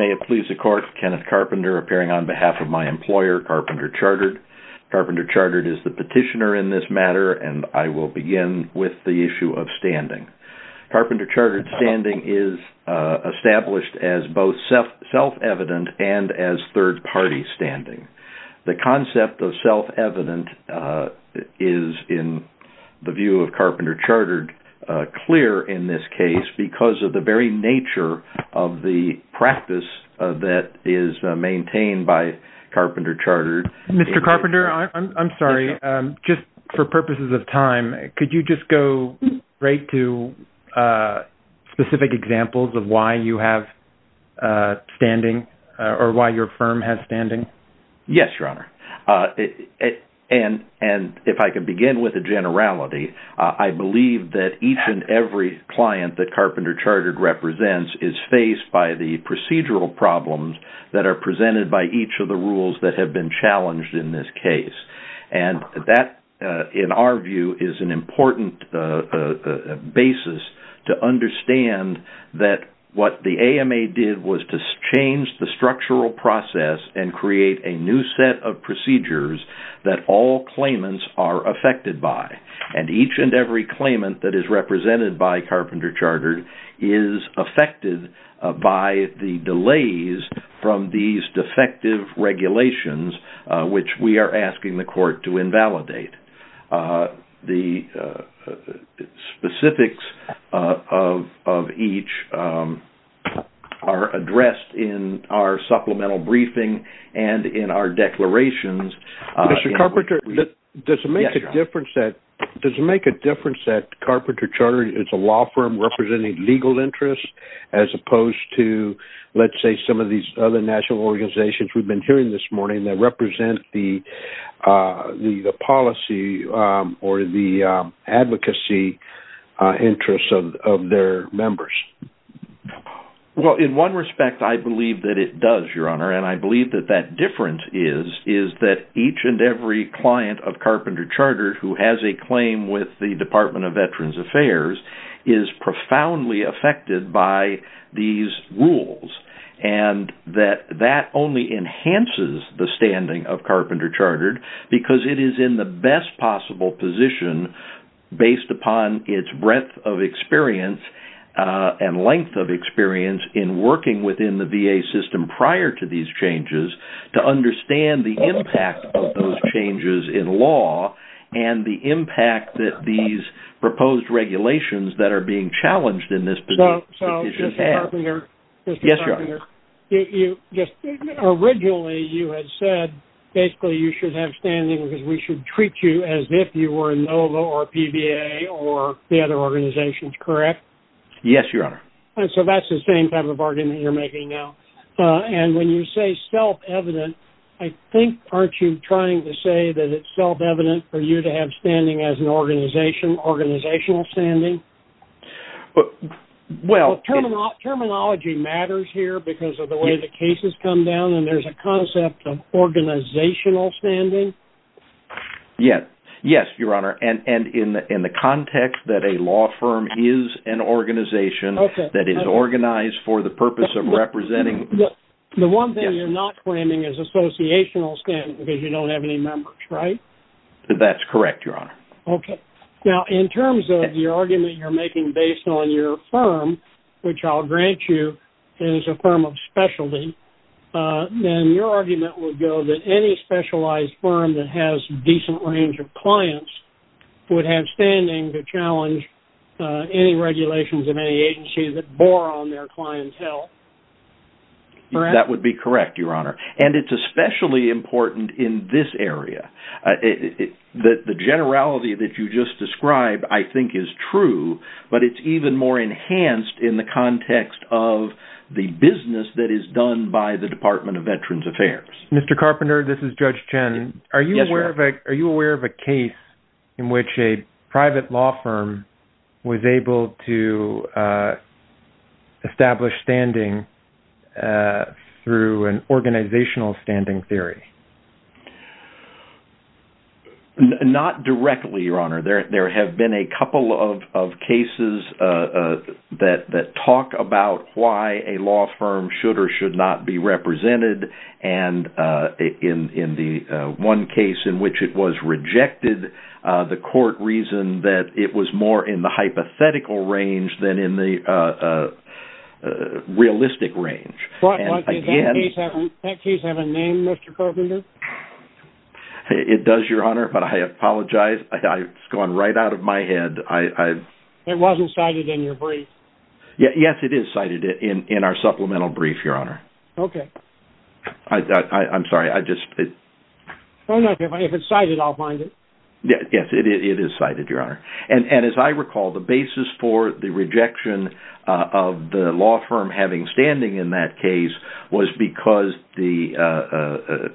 May it please the Court, Kenneth Carpenter appearing on behalf of my employer, Carpenter Chartered. Carpenter Chartered is the petitioner in this matter and I will begin with the issue of standing. Carpenter Chartered standing is established as both self-evident and as third-party standing. The concept of self-evident is, in the view of Carpenter Chartered, clear in this case because of the very nature of the practice that is maintained by Carpenter Chartered. Mr. Carpenter, I'm sorry, just for purposes of time, could you just go right to specific examples of why you have standing or why your firm has standing? Yes, Your Honor. If I can begin with a generality, I believe that each and every client that Carpenter Chartered represents is faced by the procedural problems that are presented by each of the rules that have been challenged in this case. That, in our view, is an important basis to understand that what the AMA did was to change the structural process and create a new set of procedures that all claimants are affected by. And each and every claimant that is represented by Carpenter Chartered is affected by the delays from these defective regulations which we are asking the court to invalidate. The specifics of each are addressed in our supplemental briefing and in our declarations. Mr. Carpenter, does it make a difference that Carpenter Chartered is a law firm representing legal interests as opposed to, let's say, some of these other national organizations we've been hearing this morning that represent the policy or the advocacy interests of their members? Well, in one respect, I believe that it does, Your Honor. And I believe that that difference is that each and every client of Carpenter Chartered who has a claim with the Department of Veterans Affairs is profoundly affected by these rules. And that that only enhances the standing of Carpenter Chartered because it is in the best possible position based upon its breadth of experience and length of experience in working within the VA system prior to these changes to understand the impact of those changes in law and the impact that these proposed regulations that are being challenged in this position have. So, Mr. Carpenter, originally you had said basically you should have standing because we should treat you as if you were NOVA or PVA or the So that's the same type of argument you're making now. And when you say self-evident, I think, aren't you trying to say that it's self-evident for you to have standing as an organization, organizational standing? Well, terminology matters here because of the way the cases come down and there's a concept of organizational standing. Yes, Your Honor. And in the context that a law firm is an organization that is organized for the purpose of representing The one thing you're not claiming is associational standing because you don't have any members, right? That's correct, Your Honor. Okay. Now, in terms of the argument you're making based on your firm, which I'll grant you is a firm of specialty, then your argument would go that any specialized firm that has decent range of clients would have standing to challenge any regulations of any agency that bore on their clientele. Correct? That would be correct, Your Honor. And it's especially important in this area. The generality that you just described, I think, is true, but it's even more enhanced in the context of the business that is done by the Department of Veterans Affairs. Mr. Carpenter, this is Judge Chen. Are you aware of a case in which a private law firm was able to establish standing through an organizational standing theory? Not directly, Your Honor. There have been a couple of cases that talk about why a law firm, in the one case in which it was rejected, the court reasoned that it was more in the hypothetical range than in the realistic range. Does that case have a name, Mr. Carpenter? It does, Your Honor, but I apologize. It's gone right out of my head. It wasn't cited in your brief? Yes, it is cited in our supplemental brief, Your Honor. Okay. I'm sorry, I just... If it's cited, I'll find it. Yes, it is cited, Your Honor. And as I recall, the basis for the rejection of the law firm having standing in that case was because the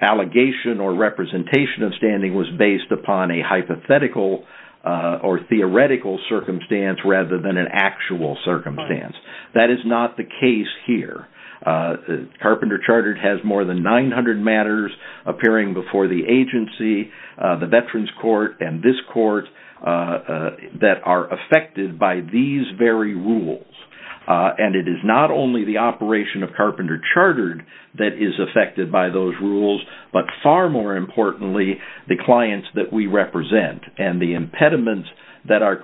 allegation or representation of standing was based upon a hypothetical or theoretical circumstance rather than an actual circumstance. That is not the case here. Carpenter Chartered has more than 900 matters appearing before the agency, the Veterans Court, and this court that are affected by these very rules. And it is not only the operation of Carpenter Chartered that is affected by those rules, but far more importantly, the clients that we represent and the impediments that are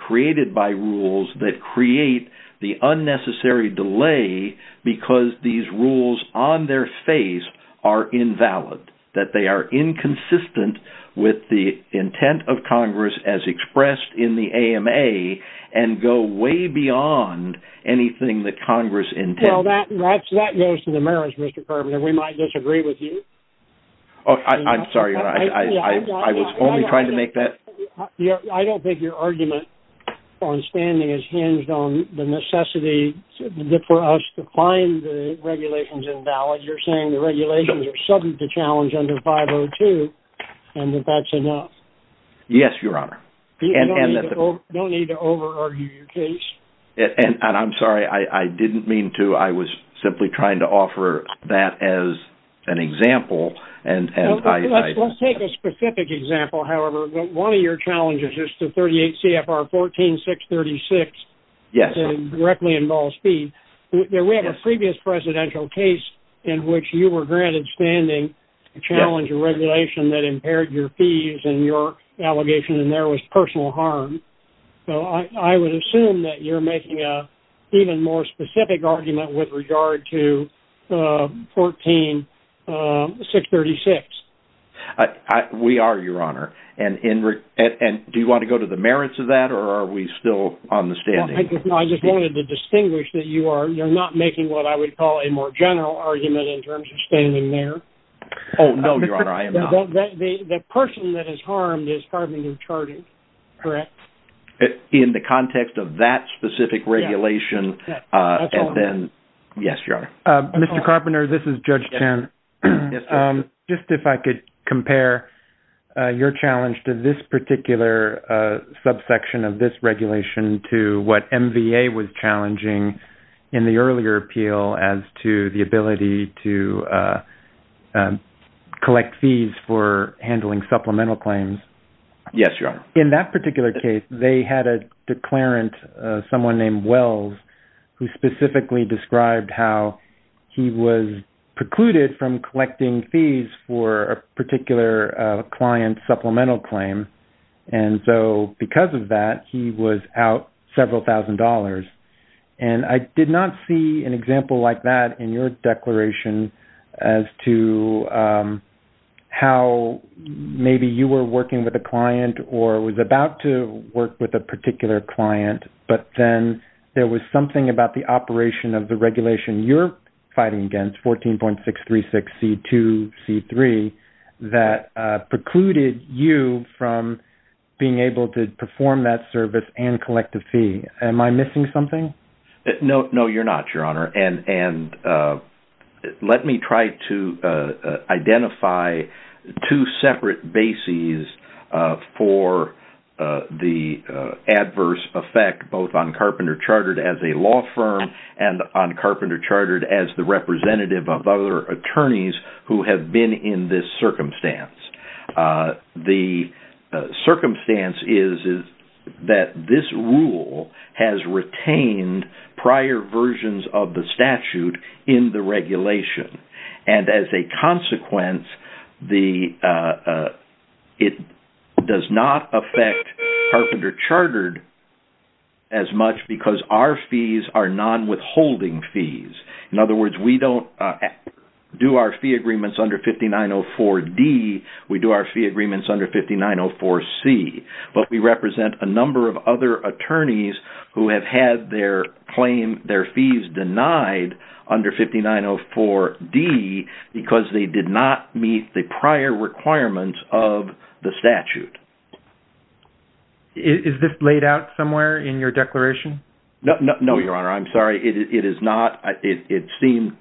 because these rules on their face are invalid, that they are inconsistent with the intent of Congress as expressed in the AMA and go way beyond anything that Congress intended. Well, that goes to the merits, Mr. Carpenter. We might disagree with you. Oh, I'm sorry, Your Honor. I was only trying to make that... I don't think your argument on standing is hinged on the necessity for us to find the regulations invalid. You're saying the regulations are subject to challenge under 502, and that that's enough. Yes, Your Honor. Don't need to over-argue your case. And I'm sorry, I didn't mean to. I was simply trying to offer that as an example. Let's take a specific example, however. One of your challenges is to 38 CFR 14-636, that directly involves fees. We have a previous presidential case in which you were granted standing to challenge a regulation that impaired your fees and your allegation, and there was personal harm. So I would assume that you're making an even more specific argument with regard to CFR 14-636. We are, Your Honor. And do you want to go to the merits of that, or are we still on the standing? I just wanted to distinguish that you're not making what I would call a more general argument in terms of standing there. Oh, no, Your Honor, I am not. The person that is harmed is carbon-discharged, correct? In the context of that specific regulation, and then... Yes, Your Honor. Mr. Carpenter, this is Judge Chan. Just if I could compare your challenge to this particular subsection of this regulation to what MVA was challenging in the earlier appeal as to the ability to collect fees for handling supplemental claims. Yes, Your Honor. In that particular case, they had a declarant, someone named Wells, who specifically described how he was precluded from collecting fees for a particular client supplemental claim. And so because of that, he was out several thousand dollars. And I did not see an example like that in your declaration as to how maybe you were working with a client or was about to work with a particular client, but then there was something about the operation of the regulation you're fighting against, 14.636C2C3, that precluded you from being able to perform that service and collect a fee. Am I missing something? No, you're not, Your Honor. And let me try to identify two separate bases for the adverse effect both on Carpenter Chartered as a law firm and on Carpenter Chartered as the representative of other attorneys who have been in this circumstance. The circumstance is that this rule has retained prior versions of the statute in the regulation. And as a consequence, it does not affect Carpenter Chartered as much because our fees are non-withholding fees. In other words, we don't do our fee agreements under 5904D, we do our fee agreements under 5904C. But we represent a number of other attorneys who have had their claim, their fees denied under 5904D because they did not meet the prior requirements of the statute. Is this laid out somewhere in your declaration? No, Your Honor. I'm sorry, it is not. It seemed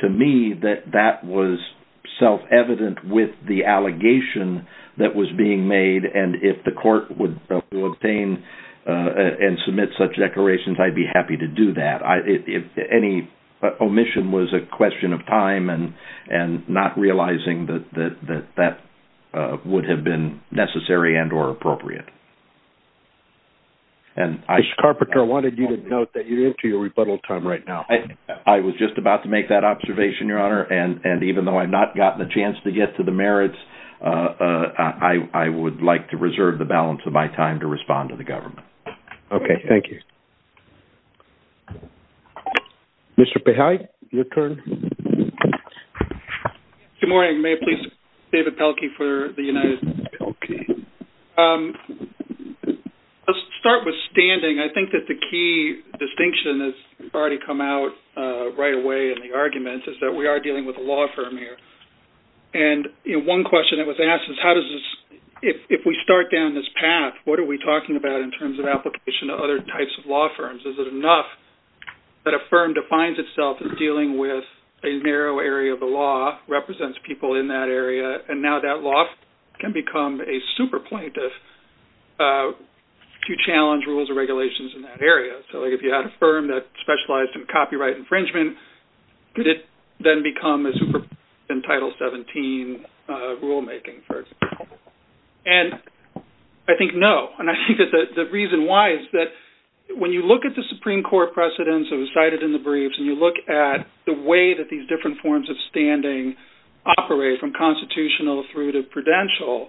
to me that that was self-evident with the allegation that was being made. And if the court would obtain and submit such declarations, I'd be happy to do that. Any omission was a question of time and not realizing that that would have been necessary and or appropriate. Mr. Carpenter, I wanted you to note that you're into your rebuttal time right now. I was just about to make that observation, Your Honor. And even though I've not gotten a chance to get to the merits, I would like to reserve the balance of my time to respond to the government. Okay, thank you. Mr. Pihai, your turn. Good morning. May I please David Pelkey for the United States? Okay. Let's start with standing. I think that the key distinction that's already come out right away in the argument is that we are dealing with a law firm here. And one question that was asked is how does this, if we start down this path, what are we talking about in terms of application to other types of law firms? Is it enough that a firm defines itself as dealing with a narrow area of the law, represents people in that area, and now that law can become a super plaintiff to challenge rules or regulations in that area? So like if you had a firm that specialized in copyright infringement, did it then become a super plaintiff in Title 17 rulemaking, for example? And I think no. And I think that the reason why is that when you look at the Supreme Court precedents that was cited in the briefs, and you look at the way that these different forms of standing operate from constitutional through to prudential,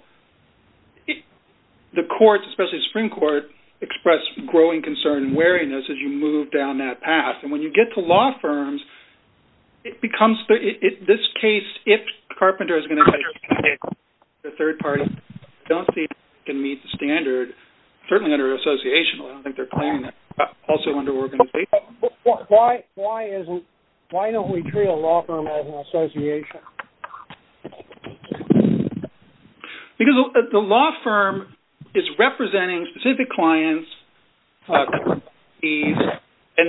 the courts, especially the Supreme Court, express growing concern and wariness as you move down that path. And when you get to law firms, it becomes, in this case, if Carpenter is going to be a third party, I don't think it can meet the standard, certainly under associational. I don't think they're planning that. Also under organizational. But why isn't, why don't we treat a law firm as an association? Because the law firm is representing specific clients, and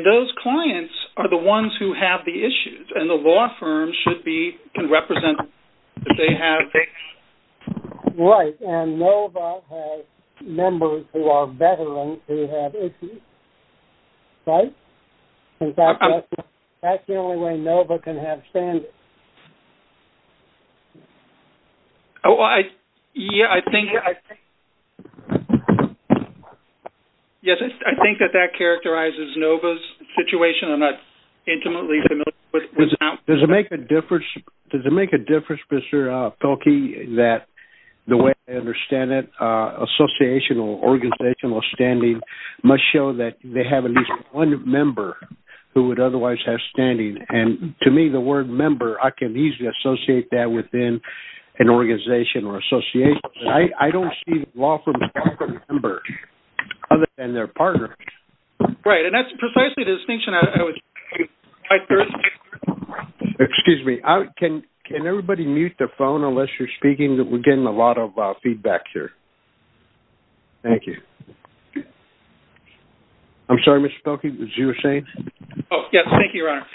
those clients are the ones who have the issues. And the law firm should be, can represent them if they have issues. Right. And NOVA has members who are veterans who have issues. Right? In fact, that's the only way NOVA can have standards. Oh, I, yeah, I think, yes, I think that that characterizes NOVA's situation. I'm not intimately familiar with it now. Does it make a difference, does it make a difference, Mr. Felkey, that the way I understand it, associational, organizational standing must show that they have at least one member who would otherwise have standing. And to me, the word member, I can easily associate that within an organization or association. I don't see law firms as separate members other than their partners. Right. And that's precisely the distinction I was trying to make. Excuse me. Can everybody mute their phone unless you're speaking? We're getting a lot of feedback here. Thank you. I'm sorry, Mr. Felkey, was you saying? Oh, yes. Thank you, Your Honor.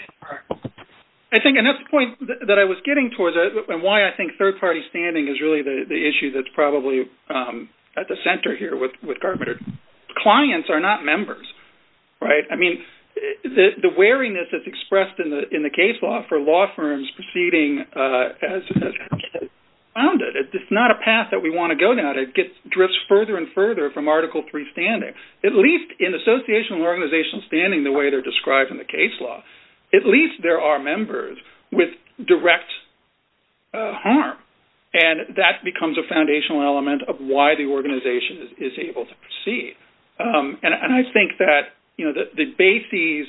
I think, and that's the point that I was getting towards, and why I think third-party standing is really the issue that's probably at the center here with Gartmutter. Clients are not members, right? I mean, the wariness that's expressed in the case law for law firms proceeding as founded, it's not a path that we want to go down. It drifts further and further from Article III standing, at least in associational, organizational standing, the way they're described in the case law. At least there are members with direct harm, and that becomes a foundational element of why the organization is able to proceed. And I think that the bases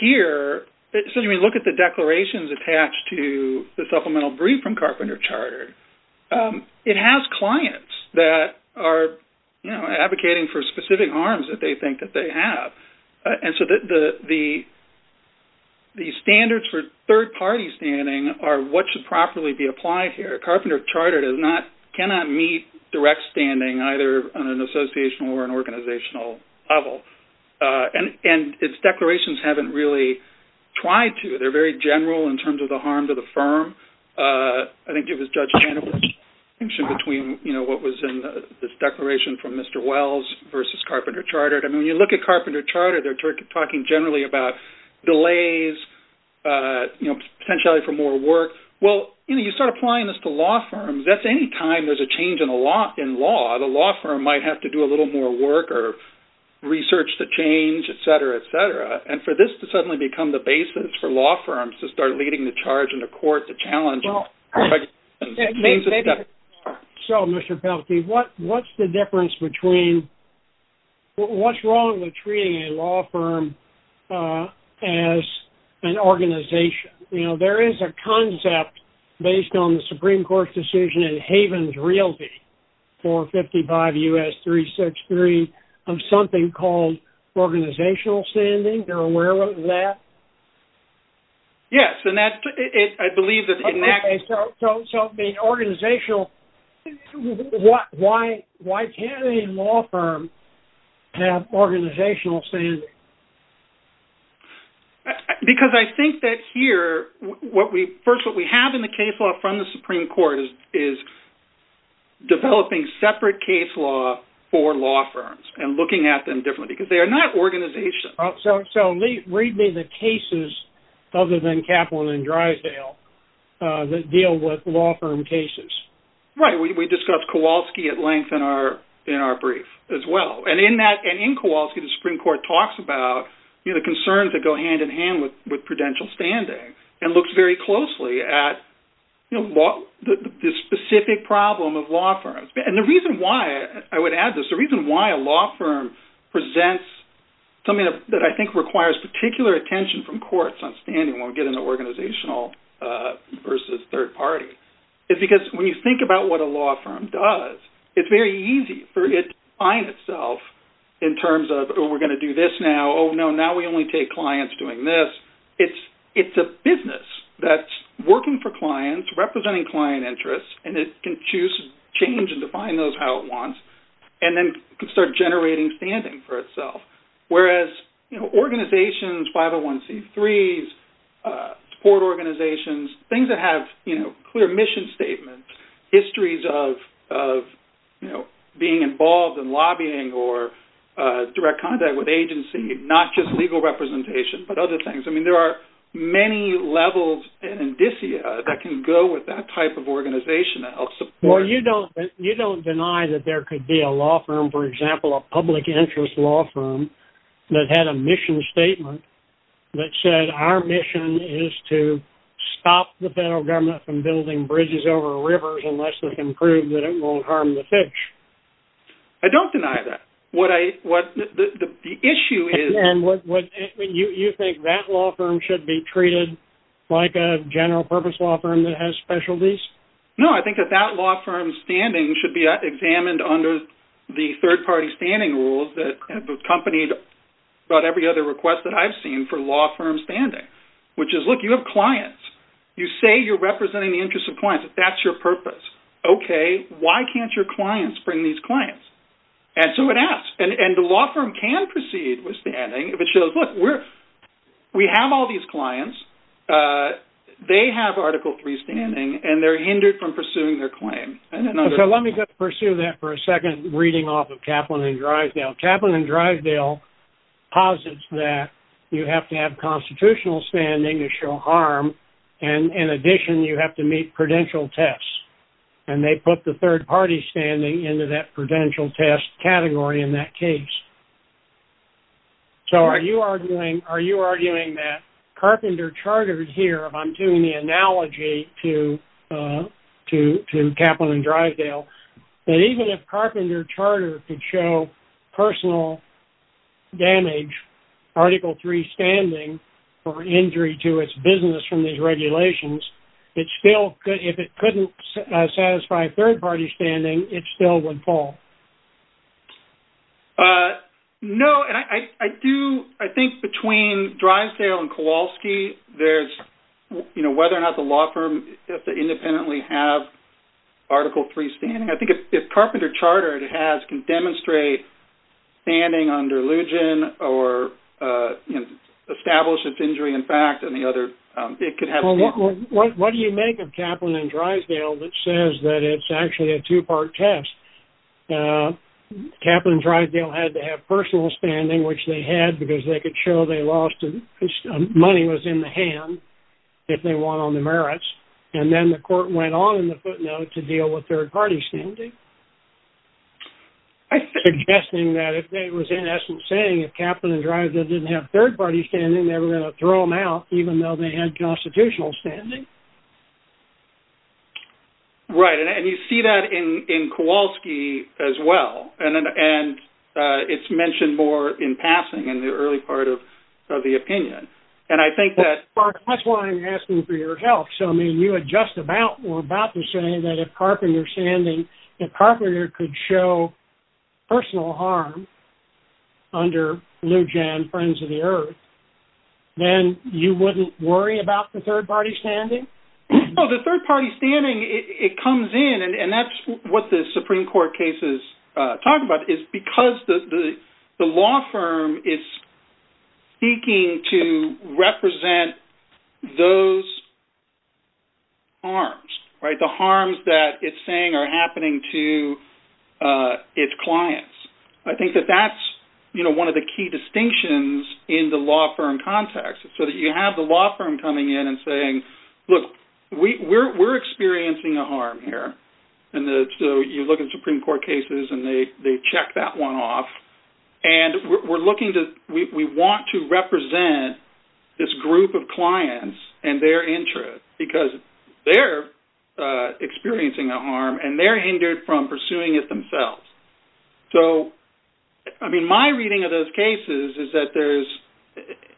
here, so when you look at the declarations attached to the supplemental brief from Carpenter Chartered, it has clients that are advocating for specific harms that they think that they have. And so the standards for third-party standing are what should properly be applied here. Carpenter Chartered cannot meet direct standing either on an associational or an organizational level. And its declarations haven't really tried to. They're very general in terms of the harm to the firm. I think it was Judge Hannibal's distinction between what was in this declaration from Mr. Wells versus Carpenter Chartered. I mean, when you look at Carpenter Chartered, they're talking generally about delays, potentially for more work. Well, you start applying this to law firms, that's any time there's a change in law. The law firm might have to do a little more work or research the change, et cetera, et cetera. And for this to suddenly become the basis for law firms to start leading the charge in the court, the challenge. Well, so Mr. Pelkey, what's the difference between what's wrong with treating a law firm as an organization? You know, there is a concept based on the Supreme Court's decision in Haven's Realty 455 U.S. 363 of something called organizational standing. You're aware of that? Yes, and that's, I believe that... Okay, so being organizational, why can't a law firm have organizational standing? Because I think that here, what we, first, what we have in the case law from the Supreme Court is developing separate case law for law firms and looking at them differently because they are not organization. So read me the cases other than Kaplan and Drysdale that deal with law firm cases. Right, we discussed Kowalski at length in our brief as well. And in that, and in Kowalski, the Supreme Court talks about, you know, concerns that go hand in hand with prudential standing and looks very closely at, you know, the specific problem of law firms. And the reason why, I would add this, the reason why a law firm presents something that I think requires particular attention from courts on standing when we get into organizational versus third party is because when you think about what a law firm does, it's very easy for it to define itself in terms of, oh, we're going to do this now. Oh, no, now we only take clients doing this. It's a business that's working for clients, representing client interests, and it can change and define those how it wants and then start generating standing for itself. Whereas, you know, organizations, 501c3s, support organizations, things that have, you know, clear mission statements, histories of, you know, being involved in lobbying or direct contact with agency, not just legal representation, but other things. I mean, there are many levels and indicia that can go with that type of organization that helps. Well, you don't, you don't deny that there could be a law firm, for example, a public interest law firm that had a mission statement that said, our mission is to stop the federal government from building bridges over rivers unless we can prove that it won't harm the fish. I don't deny that. What I, what the issue is. And what you think that law firm should be treated like a general purpose law firm that has specialties? No, I think that that law firm standing should be examined under the third-party standing rules that accompanied about every other request that I've seen for law firm standing, which is, look, you have clients. You say you're representing the interests of clients. That's your purpose. Okay, why can't your clients bring these clients? And so it asks, and the law firm can proceed with standing if it shows, look, we're, we have all these clients. Uh, they have article three standing and they're hindered from pursuing their claim. So let me just pursue that for a second reading off of Kaplan and Drysdale. Kaplan and Drysdale posits that you have to have constitutional standing to show harm. And in addition, you have to meet prudential tests and they put the third-party standing into that prudential test category in that case. So are you arguing, are you arguing that Carpenter Chartered here, if I'm doing the analogy to, uh, to, to Kaplan and Drysdale, that even if Carpenter Chartered could show personal damage, article three standing, or injury to its business from these regulations, it still could, if it couldn't satisfy third-party standing, it still would fall? Uh, no. And I, I do, I think between Drysdale and Kowalski, there's, you know, whether or not the law firm has to independently have article three standing. I think if, if Carpenter Chartered has, can demonstrate standing under legion or, uh, you know, establish its injury in fact, and the other, um, it could have- Well, what, what, what do you make of Kaplan and Drysdale that says that it's actually a two-part test? Uh, Kaplan and Drysdale had to have personal standing, which they had because they could show they lost, uh, money was in the hand, if they won on the merits, and then the court went on in the footnote to deal with third-party standing, suggesting that if they, it was in essence saying if Kaplan and Drysdale didn't have third-party standing, they were going to throw them out even though they had constitutional standing. Right, and, and you see that in, in Kowalski as well, and, and, uh, it's mentioned more in passing in the early part of, of the opinion, and I think that- Well, Mark, that's why I'm asking for your help. So, I mean, you had just about, were about to say that if Carpenter standing, if Carpenter could show personal harm under legion, Friends of the Earth, then you wouldn't worry about the third-party standing? No, the third-party standing, it, it comes in, and, and that's what the Supreme Court cases, uh, talk about, is because the, the, the law firm is seeking to represent those harms, right? The harms that it's saying are happening to, uh, its clients. I think that that's, you know, one of the key distinctions in the law firm context, so that you have the law firm coming in and saying, look, we, we're, we're experiencing a harm here, and the, so you look at Supreme Court cases, and they, they check that one off, and we're, we're looking to, we, we want to represent this group of clients and their interest, because they're, uh, experiencing a harm, and they're hindered from pursuing it themselves. So, I mean, my reading of those cases is that there's,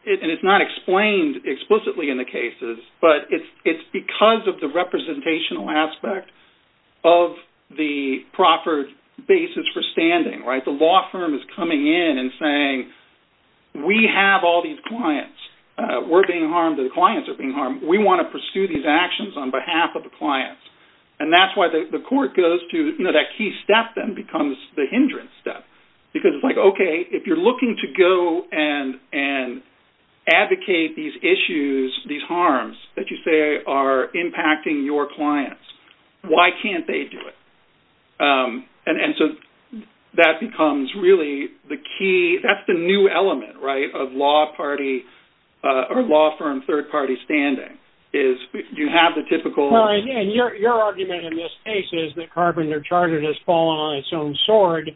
it, and it's not explained explicitly in the cases, but it's, it's because of the representational aspect of the proffered basis for standing, right? The law firm is coming in and saying, we have all these clients, uh, we're being harmed, the clients are being harmed, we want to pursue these actions on behalf of the clients, and that's why the, the court goes to, you know, that key step then becomes the hindrance step, because it's like, okay, if you're looking to go and, and advocate these issues, these harms that you say are impacting your clients, why can't they do it? Um, and, and so that becomes really the key, that's the new element, right, of law party, uh, or law firm third party standing, is you have the typical... In this case is that Carpenter Chartered has fallen on its own sword,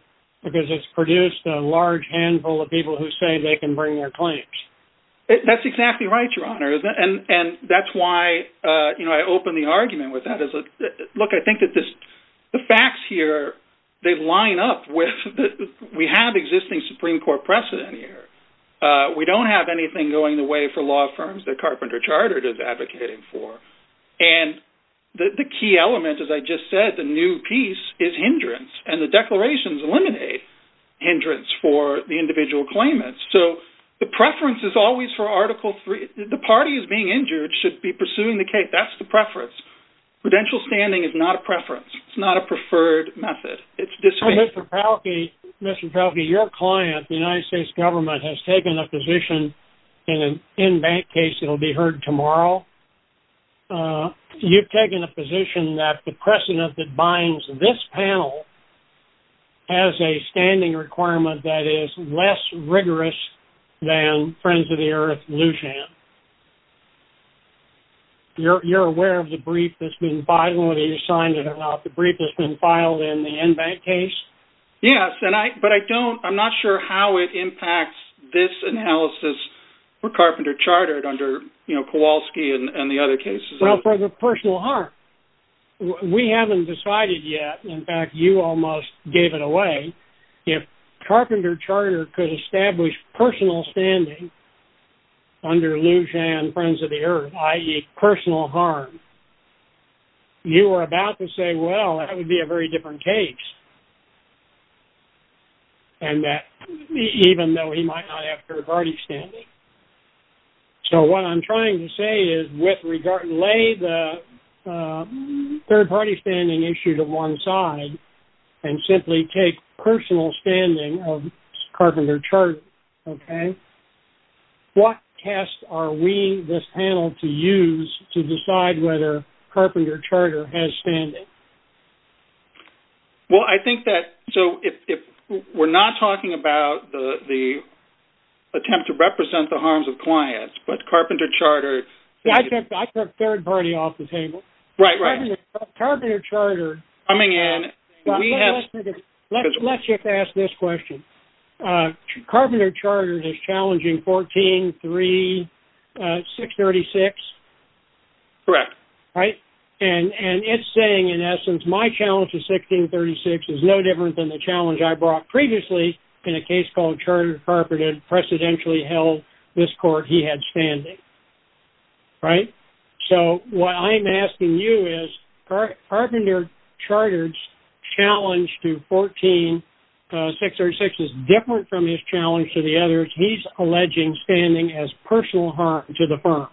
because it's produced a large handful of people who say they can bring their claims. That's exactly right, your honor, and, and that's why, uh, you know, I opened the argument with that as a, look, I think that this, the facts here, they line up with the, we have existing Supreme Court precedent here. Uh, we don't have anything going the way for law firms that Carpenter Chartered is advocating for, and the, the key element, as I just said, the new piece is hindrance, and the declarations eliminate hindrance for the individual claimants. So the preference is always for Article III. The party is being injured, should be pursuing the case, that's the preference. Prudential standing is not a preference. It's not a preferred method. It's this way. Mr. Palke, Mr. Palke, your client, the United States government, has taken a position in the in-bank case that will be heard tomorrow. Uh, you've taken a position that the precedent that binds this panel has a standing requirement that is less rigorous than Friends of the Earth Lujan. You're, you're aware of the brief that's been filed, whether you signed it or not, the brief that's been filed in the in-bank case? Yes, and I, but I don't, I'm not sure how it impacts this analysis for Carpenter Chartered under, you know, Kowalski and, and the other cases. Well, for the personal harm, we haven't decided yet. In fact, you almost gave it away. If Carpenter Chartered could establish personal standing under Lujan Friends of the Earth, i.e. personal harm, you were about to say, well, that would be a very different case. And that, even though he might not have third-party standing. So, what I'm trying to say is, with regard, lay the, uh, third-party standing issue to one side and simply take personal standing of Carpenter Chartered, okay? What test are we, this panel, to use to decide whether Carpenter Chartered has standing? Well, I think that, so, if, if we're not talking about the, the attempt to represent the harms of clients, but Carpenter Chartered... Yeah, I took, I took third-party off the table. Right, right. Carpenter Chartered... Coming in... Let's just ask this question. Carpenter Chartered is challenging 14-3-636? Correct. Right? And, and it's saying, in essence, my challenge to 16-3-6 is no different than the challenge I brought previously in a case called Chartered Carpenter that precedentially held this court he had standing. Right? So, what I'm asking you is, Carpenter Chartered's challenge to 14-6-3-6 is different from his challenge to the others. He's alleging standing as personal harm to the firm.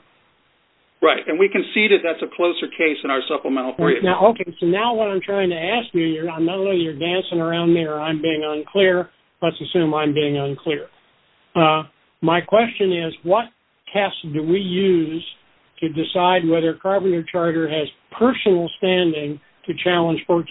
Right. And we conceded that's a closer case in our supplemental brief. Now, okay. So, now what I'm trying to ask you, I know you're dancing around me or I'm being unclear. Let's assume I'm being unclear. My question is, what test do we use to decide whether Carpenter Chartered has personal standing to challenge 14-6-3-6?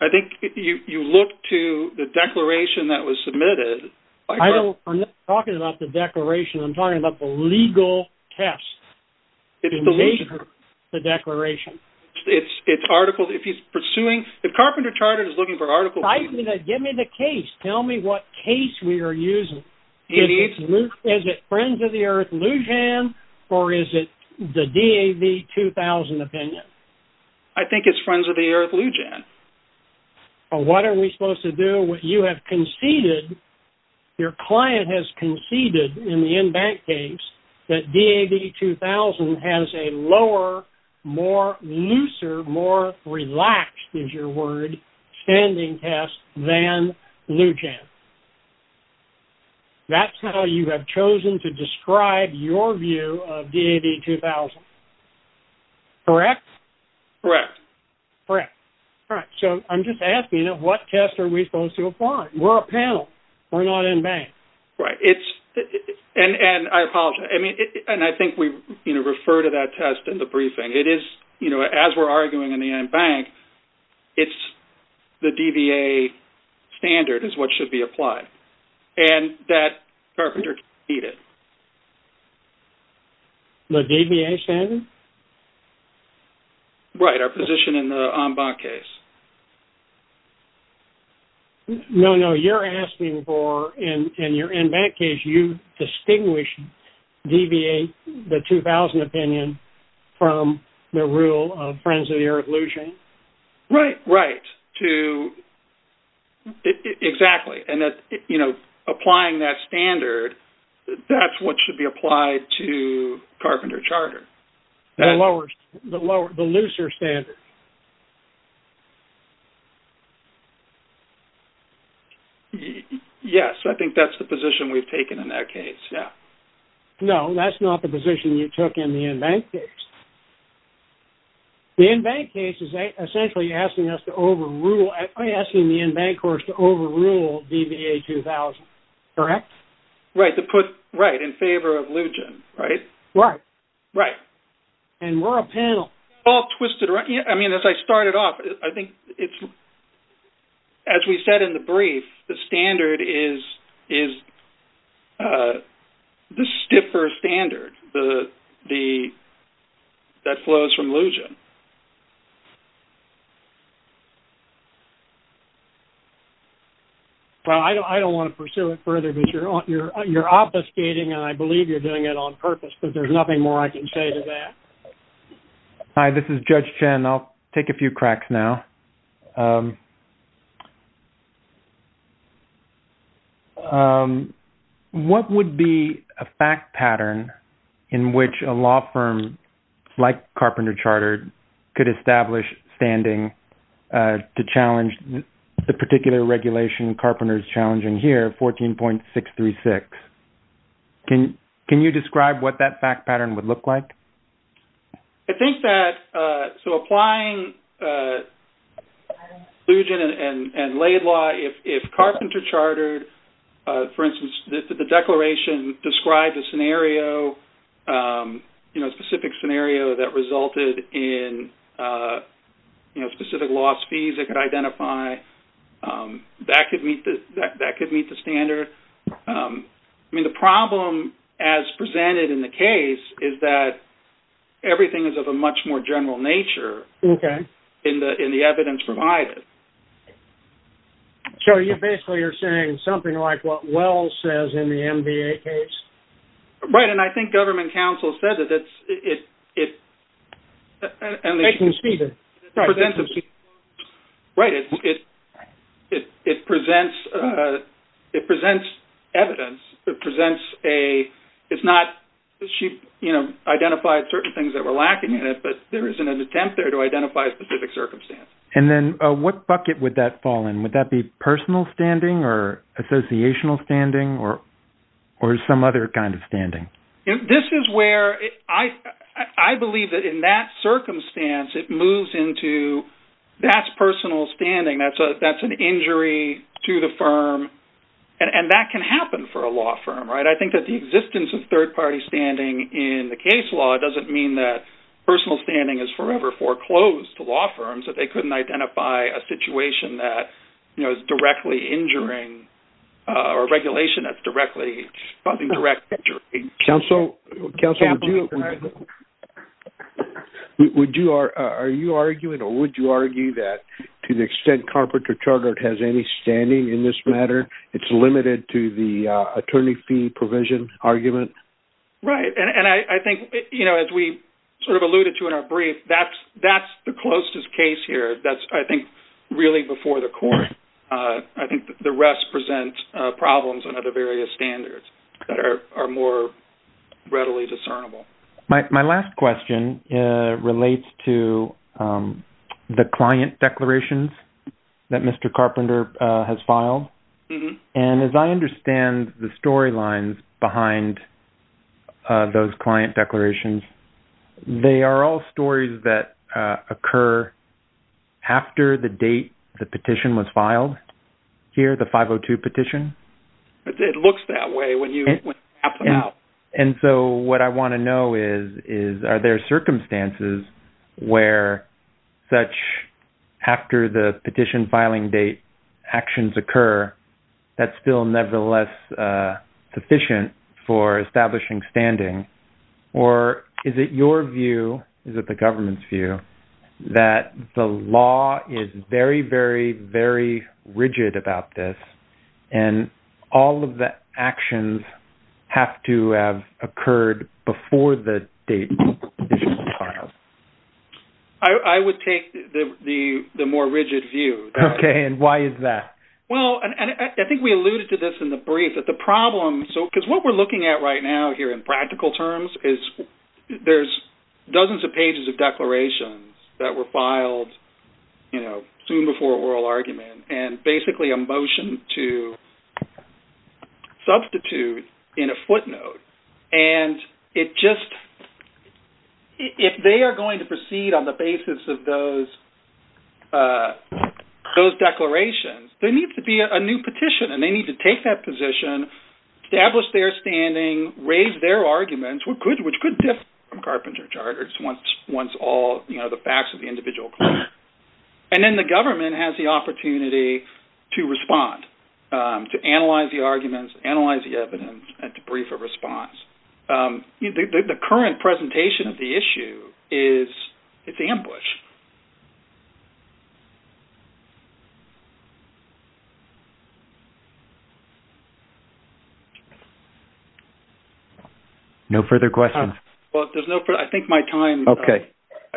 I think you, you look to the declaration that was submitted. I don't, I'm not talking about the declaration. I'm talking about the legal test. It's the Lujan. The declaration. It's, it's articles. If he's pursuing, if Carpenter Chartered is looking for articles. Give me the case. Tell me what case we are using. Is it Friends of the Earth Lujan, or is it the DAV-2000 opinion? I think it's Friends of the Earth Lujan. Well, what are we supposed to do? You have conceded, your client has conceded in the in-bank case that DAV-2000 has a lower, more looser, more relaxed is your word, standing test than Lujan. That's how you have chosen to describe your view of DAV-2000. Correct? Correct. Correct. All right. So, I'm just asking, you know, what test are we supposed to apply? We're a panel. We're not in-bank. Right. It's, and, and I apologize. I mean, and I think we, you know, refer to that test in the briefing. It is, you know, as we're arguing in the in-bank, it's the DVA standard is what should be applied. And that Carpenter needed. The DVA standard? Right, our position in the on-bank case. No, no, you're asking for, in your in-bank case, you distinguish DVA, the 2000 opinion, from the rule of Friends of the Earth Lujan? Right, right. To, exactly. And that, you know, applying that standard, that's what should be applied to Carpenter Charter. The lower, the looser standard. Yes, I think that's the position we've taken in that case, yeah. No, that's not the position you took in the in-bank case. The in-bank case is essentially asking us to overrule, asking the in-bank courts to overrule DVA 2000, correct? Right, to put, right, in favor of Lujan, right? Right. Right. And we're a panel. All twisted around, yeah, I mean, as I started off, I think it's, as we said in the brief, the standard is the stiffer standard that flows from Lujan. Well, I don't want to pursue it further because you're obfuscating and I believe you're doing it on purpose, but there's nothing more I can say to that. Hi, this is Judge Chen. I'll take a few cracks now. What would be a fact pattern in which a law firm like Carpenter Charter could establish standing to challenge the particular regulation Carpenter's challenging here, 14.636? Can you describe what that fact pattern would look like? I think that, so applying Lujan and Laidlaw, if Carpenter Chartered, for instance, the declaration described a scenario, you know, a specific scenario that resulted in, you know, specific loss fees it could identify, that could meet the standard. I mean, the problem as presented in the case is that everything is of a much more general nature in the evidence provided. So, you basically are saying something like what Wells says in the MVA case? Right, and I think government counsel said that it's, it, and they can see that, right, it presents evidence, it presents a, it's not, she, you know, identified certain things that were lacking in it, but there isn't an attempt there to identify a specific circumstance. And then what bucket would that fall in? Would that be personal standing or associational standing or some other kind of standing? This is where I believe that in that circumstance, it moves into, that's personal standing, that's an injury to the firm, and that can happen for a law firm, right? I think that the existence of third-party standing in the case law doesn't mean that personal standing is forever foreclosed to law firms, that they couldn't identify a situation that, you know, is directly injuring, or regulation that's directly, causing direct injury. Counsel, counsel, would you, would you, are you arguing or would you argue that to the extent Carpenter Chartered has any standing in this matter, it's limited to the attorney fee provision argument? Right, and I think, you know, as we sort of alluded to in our brief, that's, the closest case here, that's, I think, really before the court. I think the rest present problems on other various standards that are more readily discernible. My last question relates to the client declarations that Mr. Carpenter has filed. And as I understand the storylines behind those client declarations, they are all stories that occur after the date the petition was filed here, the 502 petition? It looks that way when you, when it happens. Yeah, and so what I want to know is, is, are there circumstances where such, after the petition filing date, actions occur, that's still nevertheless sufficient for establishing standing? Or is it your view, is it the government's view, that the law is very, very, very rigid about this, and all of the actions have to have occurred before the date the petition was filed? I would take the more rigid view. Okay, and why is that? Well, and I think we alluded to this in the brief, that the problem, so because what we're looking at right now here in practical terms is there's dozens of pages of declarations that were filed, you know, soon before oral argument, and basically a motion to substitute in a footnote. And it just, if they are going to proceed on the basis of those, those declarations, there needs to be a new petition, and they need to take that position, establish their standing, raise their arguments, which could differ from carpenter charters once, once all, you know, the facts of the individual claim. And then the government has the opportunity to respond, to analyze the arguments, analyze the evidence, and to brief a response. The current presentation of the issue is, it's ambush. Okay, no further questions. Well, there's no, I think my time. Okay.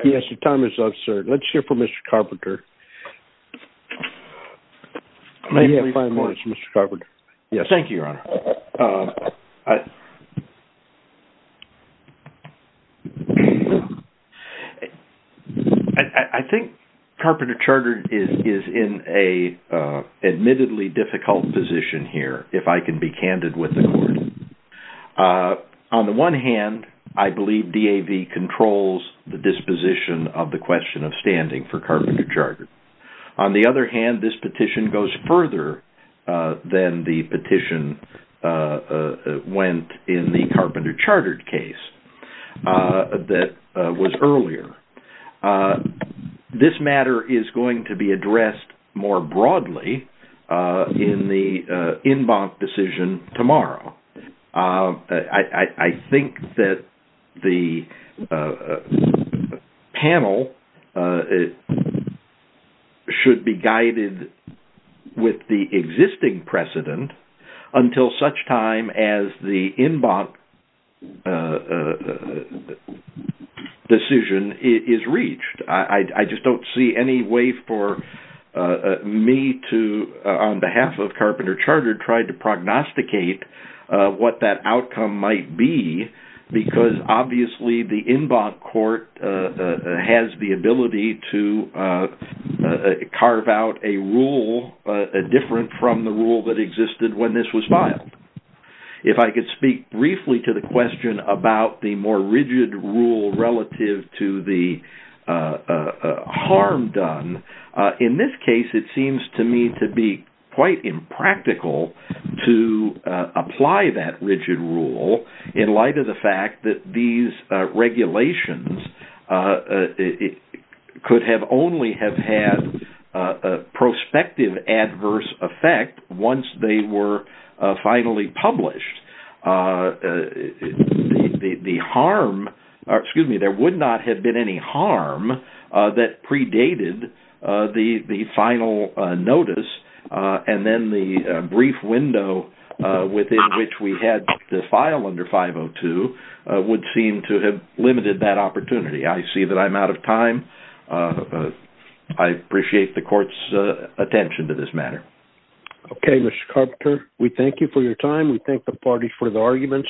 Yes, your time is up, sir. Let's hear from Mr. Carpenter. May we have five minutes, Mr. Carpenter? Yes. Thank you, Your Honor. I think carpenter charter is in a admittedly difficult position here, if I can be candid with the court. On the one hand, I believe DAV controls the disposition of the question of standing for carpenter charter. On the other hand, this petition goes further than the petition went in the carpenter charter case that was earlier. This matter is going to be addressed more broadly in the inbound decision tomorrow. I think that the panel it should be guided with the existing precedent until such time as the inbound decision is reached. I just don't see any way for me to on behalf of carpenter charter tried to prognosticate what that outcome might be. Because obviously, the inbound court has the ability to carve out a rule different from the rule that existed when this was filed. If I could speak briefly to the question about the more rigid rule relative to the harm done. In this case, it seems to me to be quite impractical to apply that rigid rule in light of the fact that these regulations could have only have had a prospective adverse effect once they were finally published. There would not have been any harm that predated the final notice and then the brief window within which we had the file under 502 would seem to have limited that opportunity. I see that I'm out of time. I appreciate the court's attention to this Okay, Mr. Carpenter, we thank you for your time. We thank the party for the arguments.